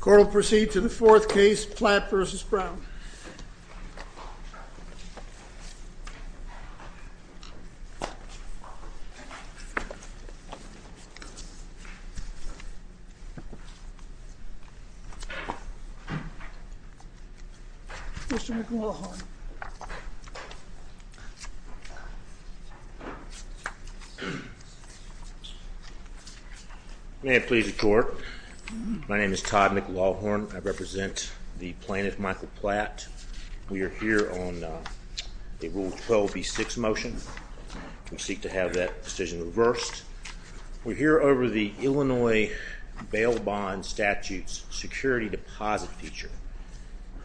Court will proceed to the fourth case, Platt v. Brown. Mr. McLaughlin May it please the court. My name is Todd McLaughlin. I represent the plaintiff Michael Platt. We are here on a Rule 12b6 motion. We seek to have that decision reversed. We're here over the Illinois bail bond statute's security deposit feature.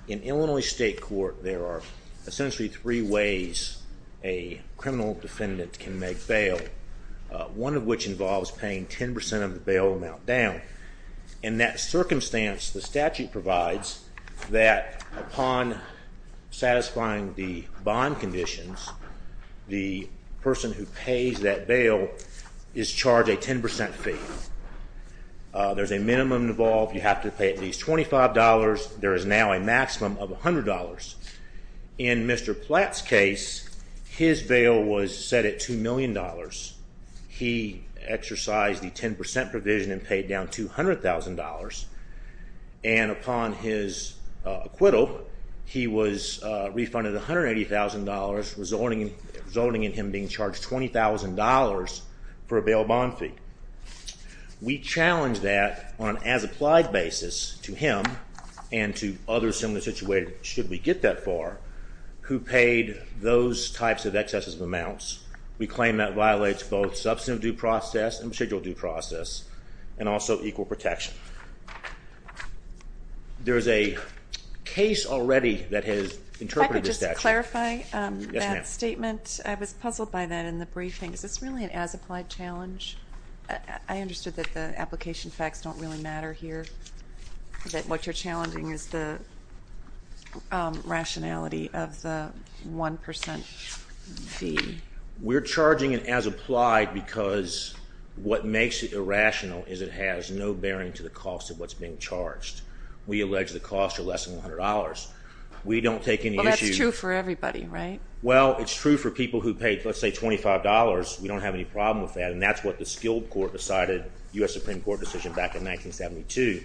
In Illinois state court, there are essentially three ways a criminal defendant can make bail, one of which involves paying 10% of the bail amount down. In that circumstance, the statute provides that upon satisfying the bond conditions, the person who pays that bail is charged a 10% fee. There's a minimum involved. You have to pay at least $25. There is now a maximum of $100. In Mr. Platt's case, his bail was set at $2 million. He exercised the 10% provision and paid down $200,000, and upon his acquittal, he was refunded $180,000, resulting in him being charged $20,000 for a bail bond fee. We challenge that on an as-applied basis to him and to others similarly situated, should we get that far, who paid those types of excesses of amounts. We claim that violates both substantive due process and procedural due process and also equal protection. There is a case already that has interpreted the statute. I could just clarify that statement. I was puzzled by that in the briefing. Is this really an as-applied challenge? I understood that the application facts don't really matter here, that what you're challenging is the rationality of the 1% fee. We're charging it as applied because what makes it irrational is it has no bearing to the cost of what's being charged. We allege the costs are less than $100. That's true for everybody, right? Well, it's true for people who paid, let's say, $25. We don't have any problem with that, and that's what the Skilled Court decided, U.S. Supreme Court decision back in 1972.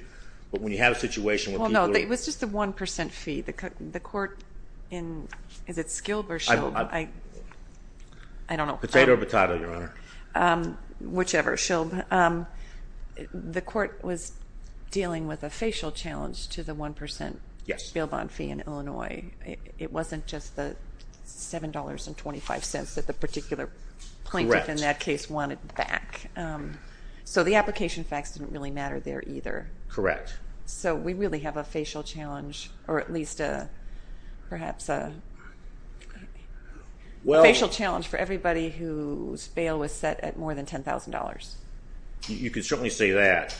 But when you have a situation where people are— Well, no, it was just the 1% fee. The court in—is it Skilled or Shilled? I don't know. Potato or batata, Your Honor? Whichever, Shilled. The court was dealing with a facial challenge to the 1% bail bond fee in Illinois. It wasn't just the $7.25 that the particular plaintiff in that case wanted back. So the application facts didn't really matter there either. Correct. So we really have a facial challenge, or at least perhaps a facial challenge for everybody whose bail was set at more than $10,000. You could certainly say that,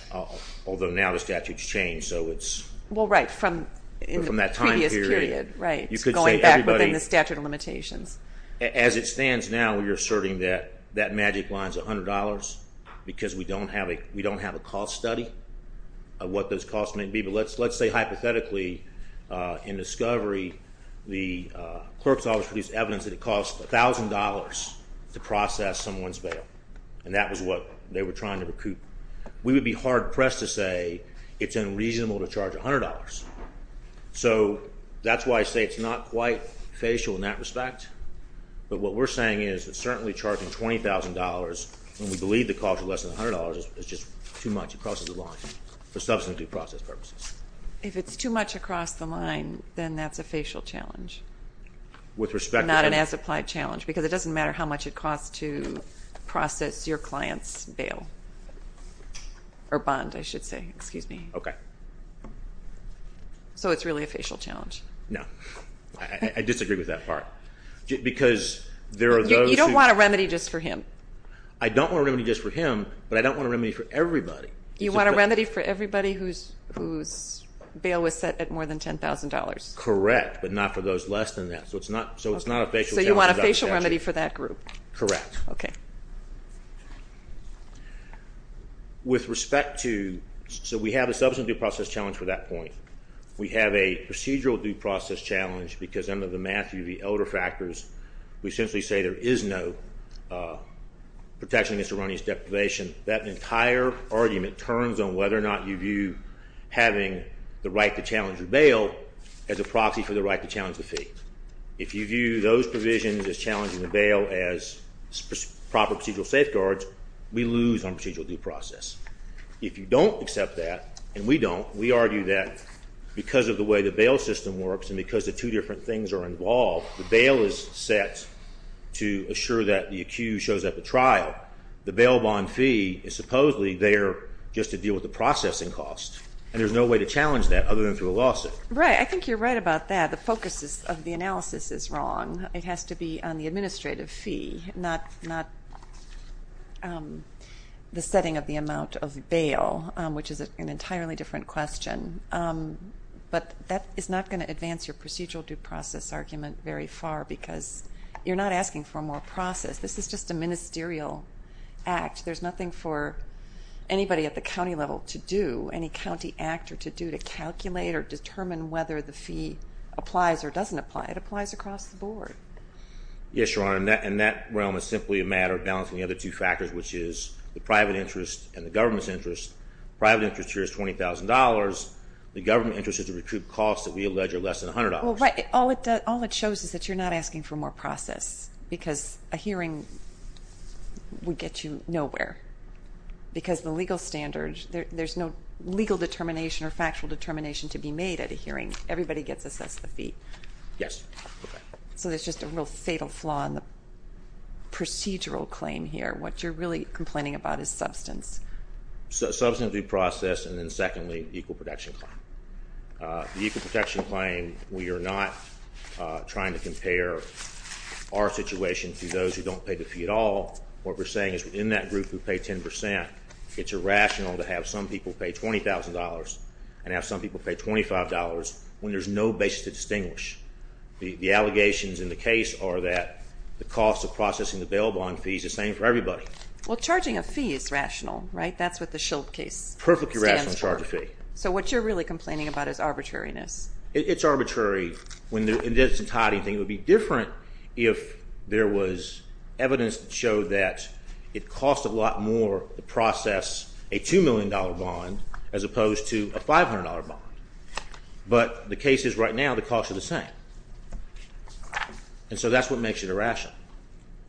although now the statute's changed, so it's— Well, right, from that time period, right, going back within the statute of limitations. As it stands now, you're asserting that that magic line's $100 because we don't have a cost study of what those costs may be. But let's say, hypothetically, in discovery, the clerk's office produced evidence that it cost $1,000 to process someone's bail, and that was what they were trying to recoup. We would be hard-pressed to say it's unreasonable to charge $100. So that's why I say it's not quite facial in that respect. But what we're saying is that certainly charging $20,000 when we believe the cost is less than $100 is just too much across the line for substantive process purposes. If it's too much across the line, then that's a facial challenge. With respect to— Not an as-applied challenge, because it doesn't matter how much it costs to process your client's bail, or bond, I should say. Excuse me. Okay. So it's really a facial challenge. No. I disagree with that part. Because there are those who— You don't want a remedy just for him. I don't want a remedy just for him, but I don't want a remedy for everybody. You want a remedy for everybody whose bail was set at more than $10,000. Correct, but not for those less than that. So it's not a facial challenge. So you want a facial remedy for that group. Correct. Okay. With respect to—so we have a substantive process challenge for that point. We have a procedural due process challenge, because under the Matthew v. Elder factors, we essentially say there is no protection against erroneous deprivation. That entire argument turns on whether or not you view having the right to challenge your bail as a proxy for the right to challenge the fee. If you view those provisions as challenging the bail as proper procedural safeguards, we lose on procedural due process. If you don't accept that, and we don't, we argue that because of the way the bail system works and because the two different things are involved, the bail is set to assure that the accused shows up at trial. The bail bond fee is supposedly there just to deal with the processing cost, and there's no way to challenge that other than through a lawsuit. Right. I think you're right about that. The focus of the analysis is wrong. It has to be on the administrative fee, not the setting of the amount of bail, which is an entirely different question. But that is not going to advance your procedural due process argument very far, because you're not asking for more process. This is just a ministerial act. There's nothing for anybody at the county level to do, any county actor to do to calculate or determine whether the fee applies or doesn't apply. It applies across the board. Yes, Your Honor, and that realm is simply a matter of balancing the other two factors, which is the private interest and the government's interest. The private interest here is $20,000. The government interest is to recoup costs that we allege are less than $100. All it shows is that you're not asking for more process, because a hearing would get you nowhere. Because the legal standards, there's no legal determination or factual determination to be made at a hearing. Everybody gets assessed the fee. Yes. So there's just a real fatal flaw in the procedural claim here. What you're really complaining about is substance. Substance due process, and then secondly, the equal protection claim. The equal protection claim, we are not trying to compare our situation to those who don't pay the fee at all. What we're saying is in that group who pay 10%, it's irrational to have some people pay $20,000 and have some people pay $25 when there's no basis to distinguish. The allegations in the case are that the cost of processing the bail bond fees is the same for everybody. Well, charging a fee is rational, right? That's what the SHIELD case stands for. Perfectly rational to charge a fee. So what you're really complaining about is arbitrariness. It's arbitrary. In this entirety, it would be different if there was evidence that showed that it costs a lot more to process a $2 million bond as opposed to a $500 bond. But the case is right now the costs are the same. And so that's what makes it irrational,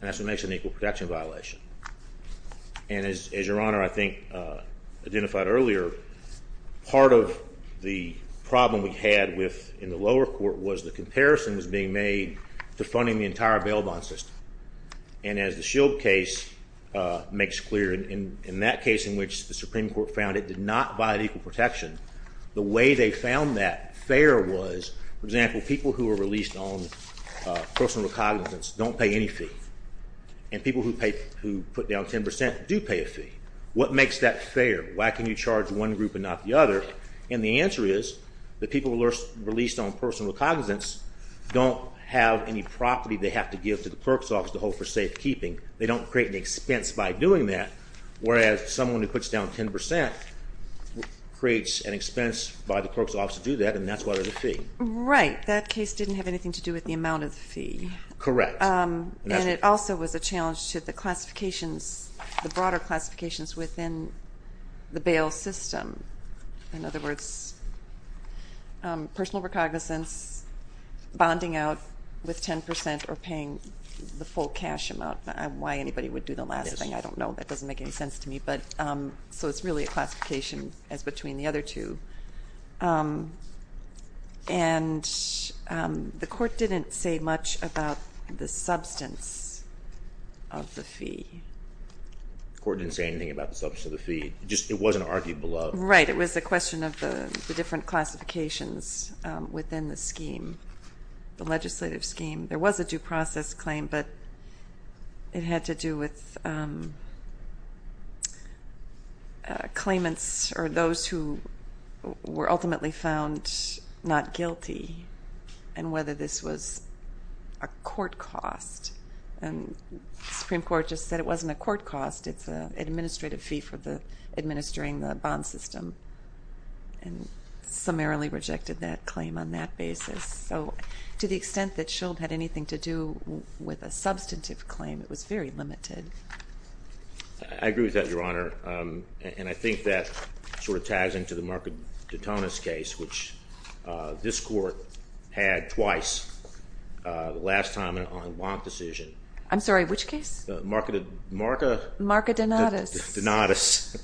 and that's what makes it an equal protection violation. And as Your Honor, I think, identified earlier, part of the problem we had in the lower court was the comparison was being made to funding the entire bail bond system. And as the SHIELD case makes clear, in that case in which the Supreme Court found it did not violate equal protection, the way they found that fair was, for example, people who are released on personal recognizance don't pay any fee. And people who put down 10% do pay a fee. What makes that fair? Why can you charge one group and not the other? And the answer is that people who are released on personal recognizance don't have any property they have to give to the clerk's office to hold for safekeeping. They don't create an expense by doing that, whereas someone who puts down 10% creates an expense by the clerk's office to do that, and that's why there's a fee. Right. That case didn't have anything to do with the amount of the fee. Correct. And it also was a challenge to the classifications, the broader classifications within the bail system. In other words, personal recognizance, bonding out with 10% or paying the full cash amount. Why anybody would do the last thing, I don't know. That doesn't make any sense to me. So it's really a classification as between the other two. And the court didn't say much about the substance of the fee. The court didn't say anything about the substance of the fee. It wasn't argued below. Right. It was a question of the different classifications within the scheme, the legislative scheme. There was a due process claim, but it had to do with claimants or those who were ultimately found not guilty and whether this was a court cost. And the Supreme Court just said it wasn't a court cost, it's an administrative fee for administering the bond system and summarily rejected that claim on that basis. So to the extent that Schuld had anything to do with a substantive claim, it was very limited. I agree with that, Your Honor. And I think that sort of ties into the Marca de Tonis case, which this court had twice, the last time on a bond decision. I'm sorry, which case? Marca de Tonis,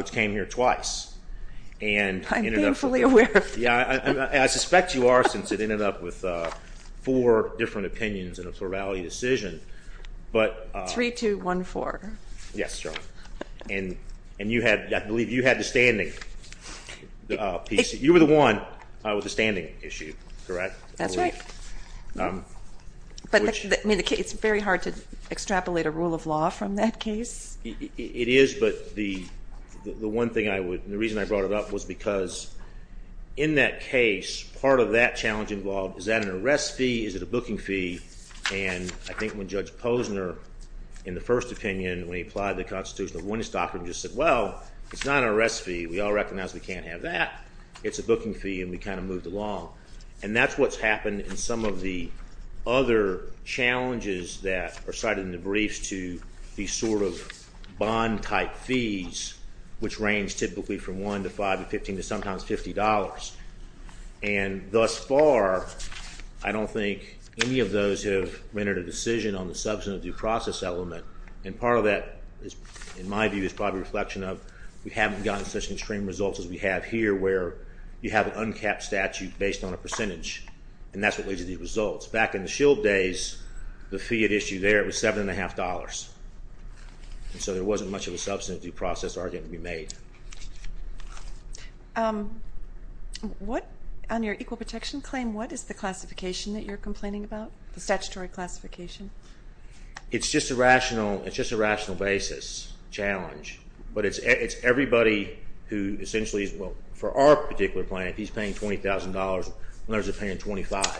which came here twice. I'm thankfully aware of that. I suspect you are since it ended up with four different opinions in a plurality decision. 3-2-1-4. Yes, Your Honor. And I believe you had the standing piece. You were the one with the standing issue, correct? That's right. It's very hard to extrapolate a rule of law from that case. It is, but the one thing I would, the reason I brought it up was because in that case, part of that challenge involved is that an arrest fee, is it a booking fee? And I think when Judge Posner, in the first opinion, when he applied the Constitution of Winnestop, he just said, well, it's not an arrest fee. We all recognize we can't have that. It's a booking fee, and we kind of moved along. And that's what's happened in some of the other challenges that are cited in the briefs to these sort of bond-type fees, which range typically from $1 to $5 to $15 to sometimes $50. And thus far, I don't think any of those have rendered a decision on the substantive due process element. And part of that, in my view, is probably a reflection of, we haven't gotten such extreme results as we have here, where you have an uncapped statute based on a percentage. And that's what leads to these results. Back in the Shield days, the fee at issue there was $7.50. And so there wasn't much of a substantive due process argument to be made. On your equal protection claim, what is the classification that you're complaining about, the statutory classification? It's just a rational basis challenge. But it's everybody who essentially is, well, for our particular client, he's paying $20,000. Others are paying $25. So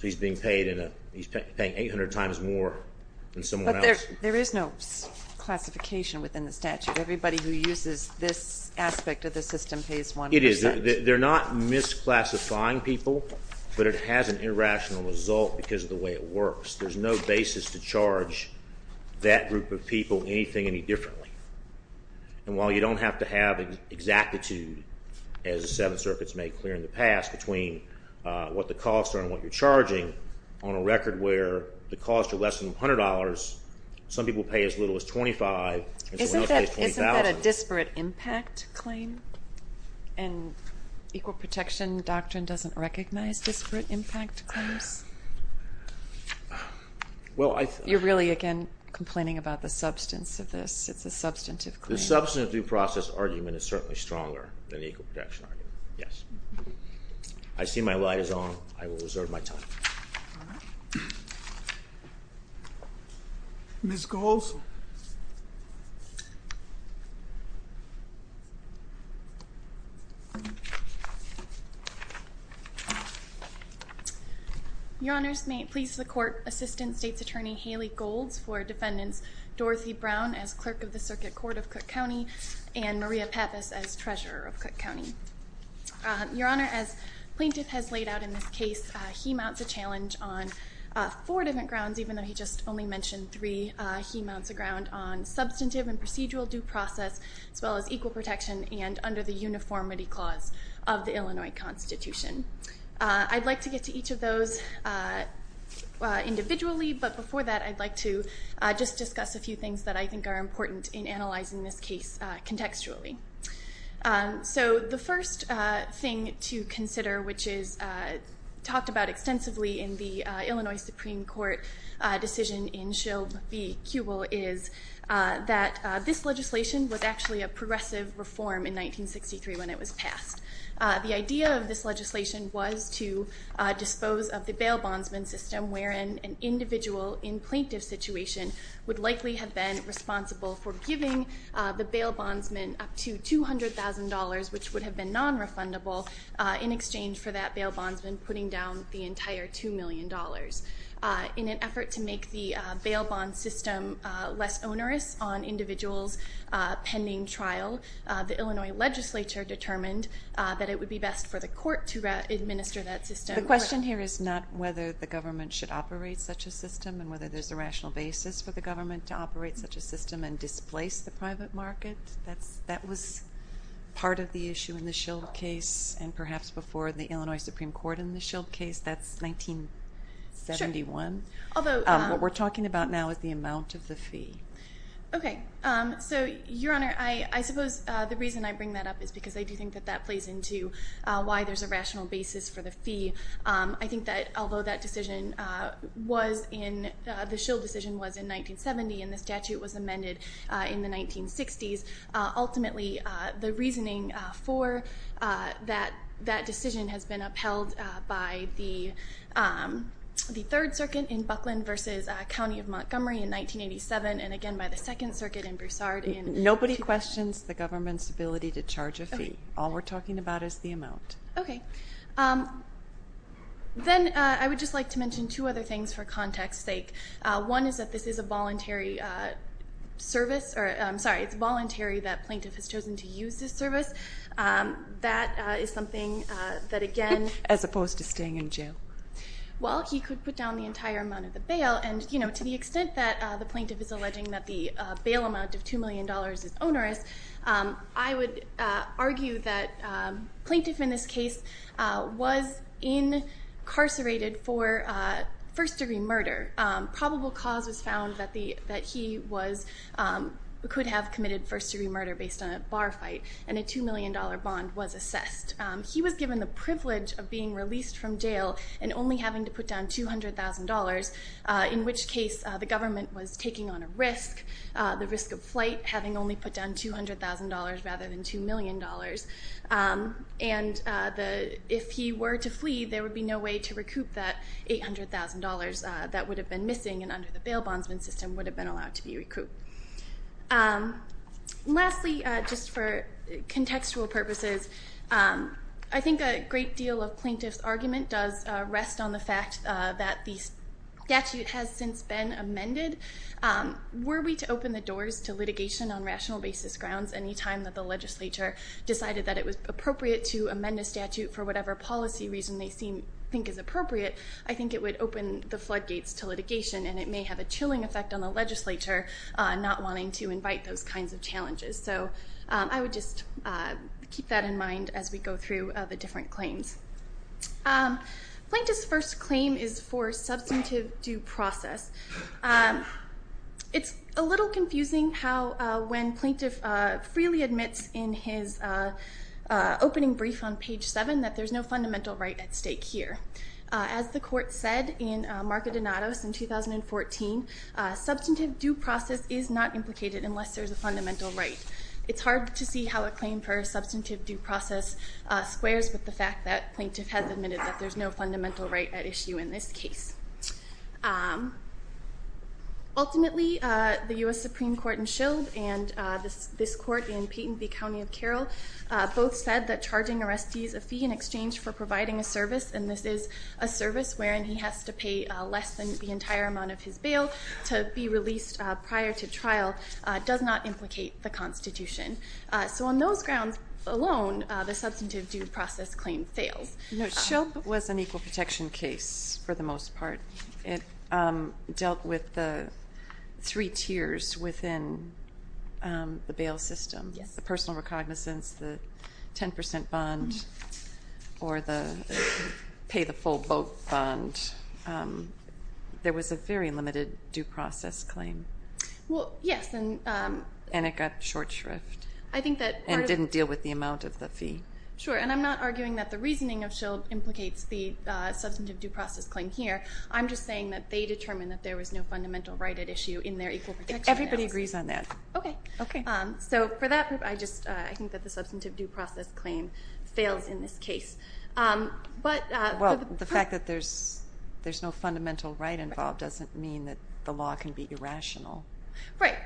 he's paying 800 times more than someone else. But there is no classification within the statute. Everybody who uses this aspect of the system pays 1%. It is. They're not misclassifying people, but it has an irrational result because of the way it works. There's no basis to charge that group of people anything any differently. And while you don't have to have exactitude, as the Seventh Circuit's made clear in the past, between what the costs are and what you're charging, on a record where the costs are less than $100, some people pay as little as $25, and someone else pays $20,000. Isn't that a disparate impact claim? And equal protection doctrine doesn't recognize disparate impact claims? You're really, again, complaining about the substance of this. It's a substantive claim. The substantive due process argument is certainly stronger than the equal protection argument. Yes. I see my light is on. I will reserve my time. Ms. Golds? Your Honors, may it please the Court, Assistant State's Attorney Haley Golds for defendants Dorothy Brown as Clerk of the Circuit Court of Cook County and Maria Pappas as Treasurer of Cook County. Your Honor, as Plaintiff has laid out in this case, he mounts a challenge on four different grounds, even though he just only mentioned three. He mounts a ground on substantive and procedural due process, as well as equal protection and under the uniformity clause of the Illinois Constitution. I'd like to get to each of those individually, but before that I'd like to just discuss a few things that I think are important in analyzing this case contextually. So the first thing to consider, which is talked about extensively in the Illinois Supreme Court decision in Shilb, v. Kubel, is that this legislation was actually a progressive reform in 1963 when it was passed. The idea of this legislation was to dispose of the bail bondsman system, wherein an individual in plaintiff's situation would likely have been responsible for giving the bail bondsman up to $200,000, which would have been nonrefundable, in exchange for that bail bondsman putting down the entire $2 million. In an effort to make the bail bonds system less onerous on individuals pending trial, the Illinois legislature determined that it would be best for the court to administer that system. The question here is not whether the government should operate such a system and whether there's a rational basis for the government to operate such a system and displace the private market. That was part of the issue in the Shilb case and perhaps before the Illinois Supreme Court in the Shilb case. That's 1971. What we're talking about now is the amount of the fee. Okay. So, Your Honor, I suppose the reason I bring that up is because I do think that that plays into why there's a rational basis for the fee. I think that although the Shilb decision was in 1970 and the statute was amended in the 1960s, ultimately the reasoning for that decision has been upheld by the 3rd Circuit in Buckland versus County of Montgomery in 1987 and again by the 2nd Circuit in Broussard. Nobody questions the government's ability to charge a fee. All we're talking about is the amount. Okay. Then I would just like to mention two other things for context's sake. One is that this is a voluntary service. I'm sorry, it's voluntary that plaintiff has chosen to use this service. That is something that again... As opposed to staying in jail. Well, he could put down the entire amount of the bail and to the extent that the plaintiff is alleging that the bail amount of $2 million is onerous, I would argue that plaintiff in this case was incarcerated for first-degree murder. Probable cause was found that he could have committed first-degree murder based on a bar fight and a $2 million bond was assessed. He was given the privilege of being released from jail and only having to put down $200,000, in which case the government was taking on a risk, the risk of flight having only put down $200,000 rather than $2 million. And if he were to flee, there would be no way to recoup that $800,000 that would have been missing and under the bail bondsman system would have been allowed to be recouped. Lastly, just for contextual purposes, I think a great deal of plaintiff's argument does rest on the fact that the statute has since been amended. Were we to open the doors to litigation on rational basis grounds any time that the legislature decided that it was appropriate to amend a statute for whatever policy reason they think is appropriate, I think it would open the floodgates to litigation and it may have a chilling effect on the legislature not wanting to invite those kinds of challenges. So I would just keep that in mind as we go through the different claims. Plaintiff's first claim is for substantive due process. It's a little confusing how when plaintiff freely admits in his opening brief on page 7 that there's no fundamental right at stake here. As the court said in Marco Donato's in 2014, substantive due process is not implicated unless there's a fundamental right. It's hard to see how a claim for substantive due process squares with the fact that plaintiff has admitted that there's no fundamental right at issue in this case. Ultimately, the U.S. Supreme Court in Shilp and this court in Payton v. County of Carroll both said that charging arrestees a fee in exchange for providing a service, and this is a service wherein he has to pay less than the entire amount of his bail to be released prior to trial, does not implicate the Constitution. So on those grounds alone, the substantive due process claim fails. No, Shilp was an equal protection case for the most part. It dealt with the three tiers within the bail system, the personal recognizance, the 10% bond, or the pay the full boat bond. There was a very limited due process claim. Well, yes, and... And it got short shrift. I think that part of... And didn't deal with the amount of the fee. Sure, and I'm not arguing that the reasoning of Shilp implicates the substantive due process claim here. I'm just saying that they determined that there was no fundamental right at issue in their equal protection analysis. Everybody agrees on that. Okay. So for that, I think that the substantive due process claim fails in this case. But... Well, the fact that there's no fundamental right involved doesn't mean that the law can be irrational. Right.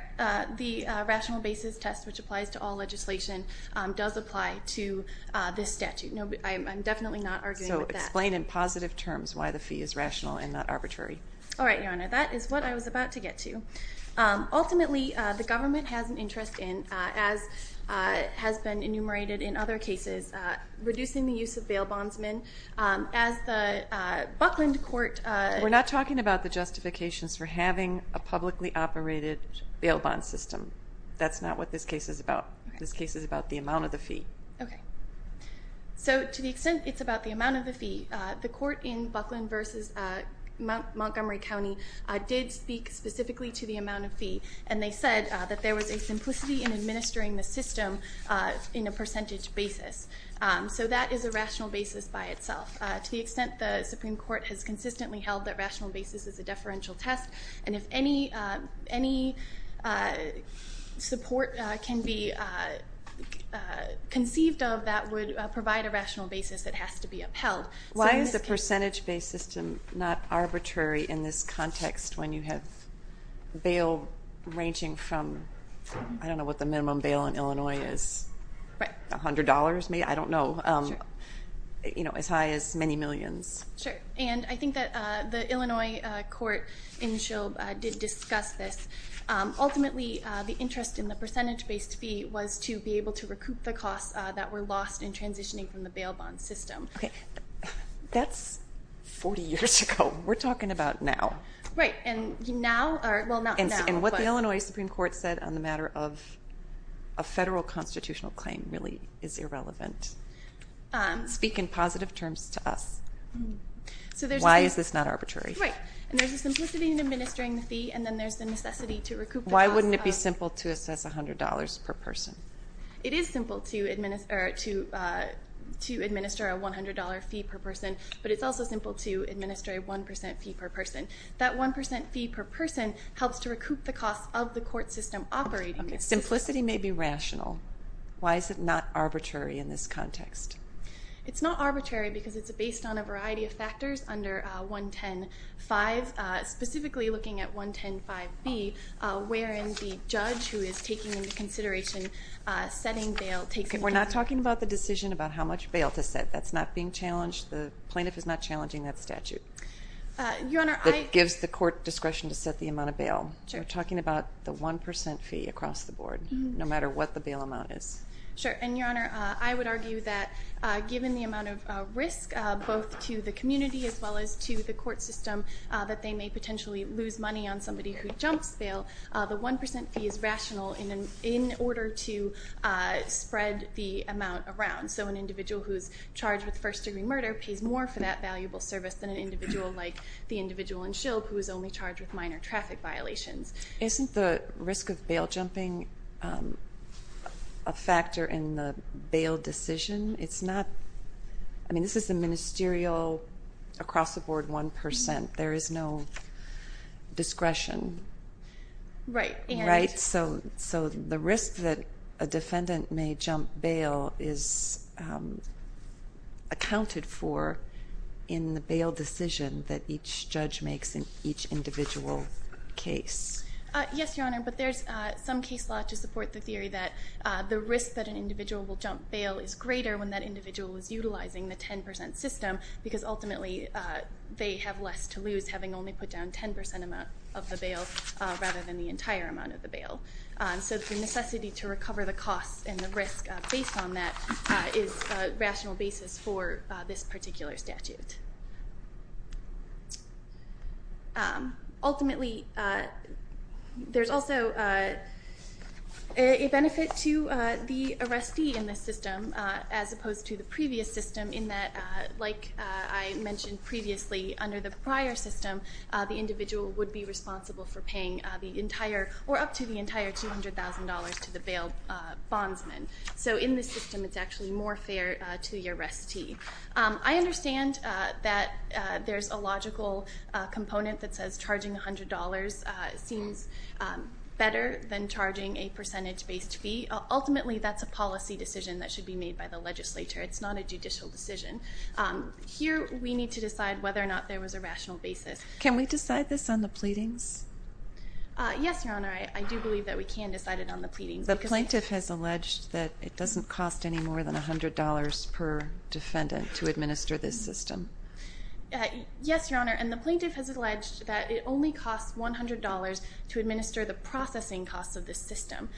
The rational basis test, which applies to all legislation, does apply to this statute. I'm definitely not arguing with that. So explain in positive terms why the fee is rational and not arbitrary. All right, Your Honor. That is what I was about to get to. Ultimately, the government has an interest in, as has been enumerated in other cases, reducing the use of bail bondsmen. As the Buckland Court... We're not talking about the justifications for having a publicly operated bail bond system. That's not what this case is about. This case is about the amount of the fee. Okay. So to the extent it's about the amount of the fee, the court in Buckland v. Montgomery County did speak specifically to the amount of fee, and they said that there was a simplicity in administering the system in a percentage basis. So that is a rational basis by itself. To the extent the Supreme Court has consistently held that rational basis is a deferential test, and if any support can be conceived of, that would provide a rational basis that has to be upheld. Why is the percentage-based system not arbitrary in this context when you have bail ranging from... I don't know what the minimum bail in Illinois is. Right. A hundred dollars, maybe? I don't know. Sure. As high as many millions. Sure. And I think that the Illinois court in Shilb did discuss this. Ultimately, the interest in the percentage-based fee was to be able to recoup the costs that were lost in transitioning from the bail bond system. Okay. That's 40 years ago. We're talking about now. Right, and now... And what the Illinois Supreme Court said on the matter of a federal constitutional claim really is irrelevant. Speak in positive terms to us. Why is this not arbitrary? Right. And there's a simplicity in administering the fee, and then there's the necessity to recoup... Why wouldn't it be simple to assess $100 per person? It is simple to administer a $100 fee per person, but it's also simple to administer a 1% fee per person. That 1% fee per person helps to recoup the costs of the court system operating... Simplicity may be rational. Why is it not arbitrary in this context? It's not arbitrary because it's based on a variety of factors under 110.5, specifically looking at 110.5b, wherein the judge who is taking into consideration setting bail takes... We're not talking about the decision about how much bail to set. That's not being challenged. The plaintiff is not challenging that statute. Your Honor, I... That gives the court discretion to set the amount of bail. Sure. We're talking about the 1% fee across the board, no matter what the bail amount is. Sure, and, Your Honor, I would argue that given the amount of risk, both to the community as well as to the court system, that they may potentially lose money on somebody who jumps bail. The 1% fee is rational in order to spread the amount around. So an individual who's charged with first-degree murder pays more for that valuable service than an individual like the individual in Shilp who is only charged with minor traffic violations. Isn't the risk of bail jumping a factor in the bail decision? It's not... I mean, this is the ministerial across-the-board 1%. There is no discretion. Right, and... Right, so the risk that a defendant may jump bail is accounted for in the bail decision that each judge makes in each individual case. Yes, Your Honor, but there's some case law to support the theory that the risk that an individual will jump bail is greater when that individual is utilizing the 10% system because ultimately they have less to lose having only put down 10% of the bail rather than the entire amount of the bail. So the necessity to recover the cost and the risk based on that is a rational basis for this particular statute. Ultimately, there's also a benefit to the arrestee in this system as opposed to the previous system in that, like I mentioned previously, under the prior system, the individual would be responsible for paying the entire or up to the entire $200,000 to the bail bondsman. So in this system, it's actually more fair to the arrestee. I understand that there's a logical component that says charging $100 seems better than charging a percentage-based fee. Ultimately, that's a policy decision that should be made by the legislature. It's not a judicial decision. Here, we need to decide whether or not there was a rational basis. Can we decide this on the pleadings? Yes, Your Honor, I do believe that we can decide it on the pleadings. The plaintiff has alleged that it doesn't cost any more than $100 per defendant to administer this system. Yes, Your Honor, and the plaintiff has alleged that it only costs $100 to administer the processing costs of this system.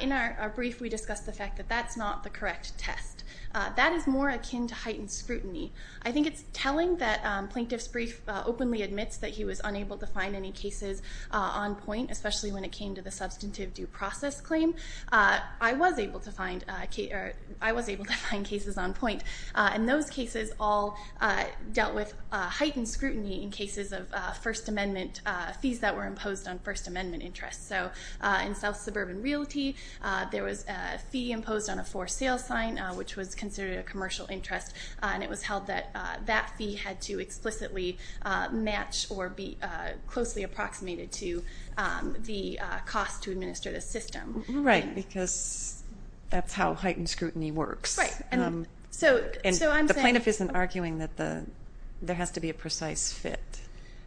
In our brief, we discussed the fact that that's not the correct test. That is more akin to heightened scrutiny. I think it's telling that plaintiff's brief openly admits that he was unable to find any cases on point, especially when it came to the substantive due process claim. I was able to find cases on point, and those cases all dealt with heightened scrutiny in cases of First Amendment fees that were imposed on First Amendment interests. In South Suburban Realty, there was a fee imposed on a for sale sign, which was considered a commercial interest, and it was held that that fee had to explicitly match or be closely approximated to the cost to administer the system. Right, because that's how heightened scrutiny works. Right, and so I'm saying... And the plaintiff isn't arguing that there has to be a precise fit.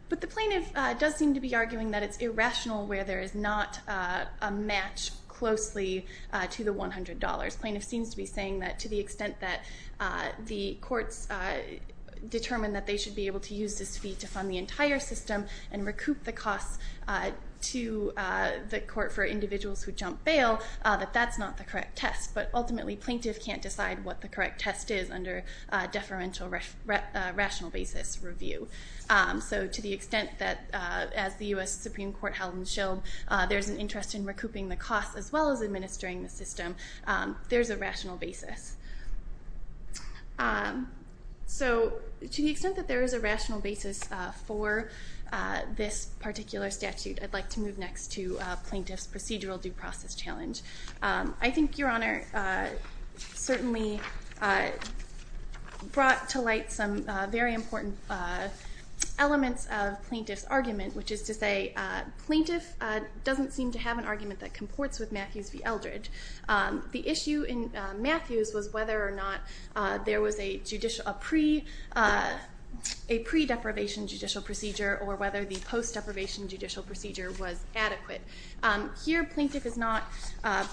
But the plaintiff does seem to be arguing that it's irrational where there is not a match closely to the $100. Plaintiff seems to be saying that to the extent that the courts determine that they should be able to use this fee to fund the entire system and recoup the costs to the court for individuals who jump bail, that that's not the correct test. But ultimately, plaintiff can't decide what the correct test is under deferential rational basis review. So to the extent that, as the US Supreme Court held in Sheldon, there's an interest in recouping the costs as well as administering the system, there's a rational basis. So to the extent that there is a rational basis for this particular statute, I'd like to move next to plaintiff's procedural due process challenge. I think Your Honour certainly brought to light some very important elements of plaintiff's argument, which is to say plaintiff doesn't seem to have an argument that comports with Matthews v Eldredge. The issue in Matthews was whether or not there was a judicial... a pre-deprivation judicial procedure or whether the post-deprivation judicial procedure was adequate. Here plaintiff is not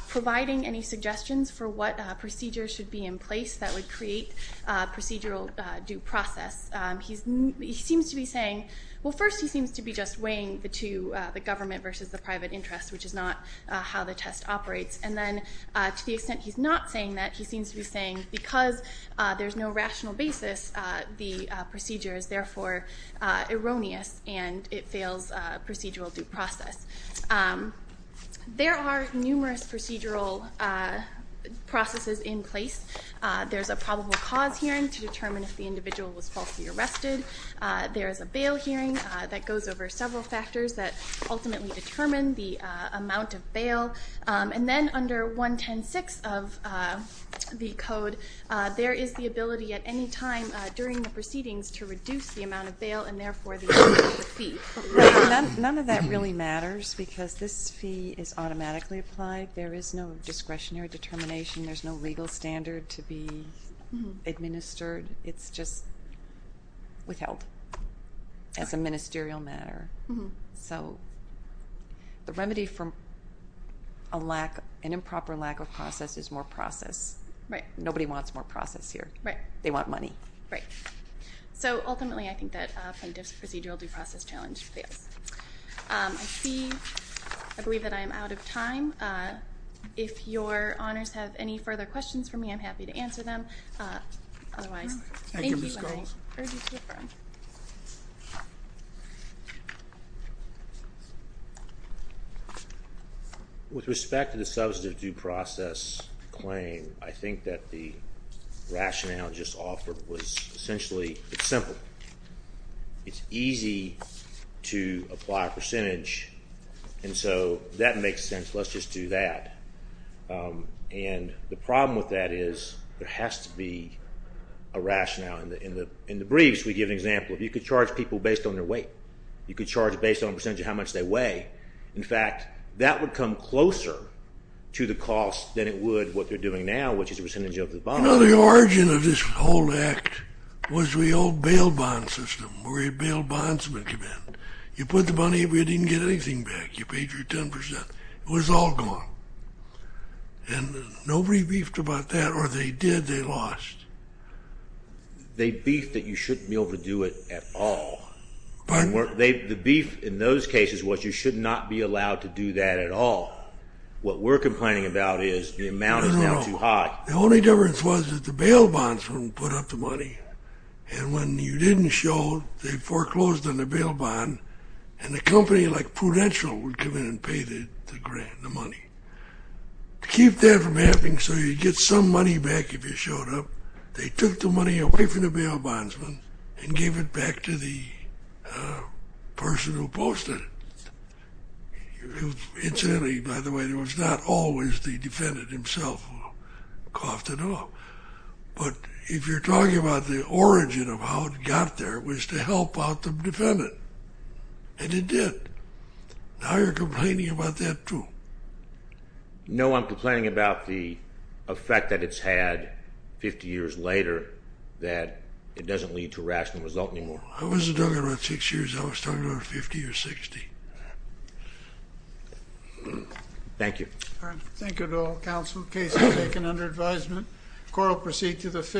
providing any suggestions for what procedures should be in place that would create procedural due process. He seems to be saying... Well, first he seems to be just weighing the two, the government versus the private interest, which is not how the test operates. And then to the extent he's not saying that, he seems to be saying because there's no rational basis, the procedure is therefore erroneous and it fails procedural due process. There are numerous procedural processes in place. There's a probable cause hearing to determine if the individual was falsely arrested. There is a bail hearing that goes over several factors that ultimately determine the amount of bail. And then under 1106 of the Code, there is the ability at any time during the proceedings to reduce the amount of bail and therefore the amount of the fee. Right, none of that really matters because this fee is automatically applied. There is no discretionary determination. There's no legal standard to be administered. It's just withheld as a ministerial matter. So the remedy for an improper lack of process is more process. Right. Nobody wants more process here. Right. They want money. Right. So ultimately, I think that from this procedural due process challenge fails. I see, I believe that I am out of time. If your honors have any further questions for me, I'm happy to answer them. Otherwise, thank you and I urge you to defer. With respect to the substantive due process claim, I think that the rationale just offered was essentially simple. It's easy to apply a percentage. And so that makes sense. Let's just do that. And the problem with that is there has to be a rationale. In the briefs, we give an example. You could charge people based on their weight. You could charge based on a percentage of how much they weigh. In fact, that would come closer to the cost than it would what they're doing now, which is a percentage of the bond. You know, the origin of this whole act was the old bail bond system where you'd bail bondsmen. You put the money, but you didn't get anything back. You paid your 10%. It was all gone. And nobody beefed about that. Or if they did, they lost. They beefed that you shouldn't be able to do it at all. Pardon? The beef in those cases was you should not be allowed to do that at all. What we're complaining about is the amount is now too high. No, no, no. The only difference was that the bail bondsmen put up the money. And when you didn't show, they foreclosed on the bail bond, and a company like Prudential would come in and pay the grant, the money. To keep that from happening so you'd get some money back if you showed up, they took the money away from the bail bondsmen and gave it back to the person who posted it. Incidentally, by the way, it was not always the defendant himself who coughed it up. But if you're talking about the origin of how it got there, it was to help out the defendant. And it did. Now you're complaining about that too. No, I'm complaining about the effect that it's had 50 years later that it doesn't lead to a rational result anymore. I wasn't talking about six years. I was talking about 50 or 60. Thank you. Thank you to all counsel. Case is taken under advisement. Court will proceed to the fifth.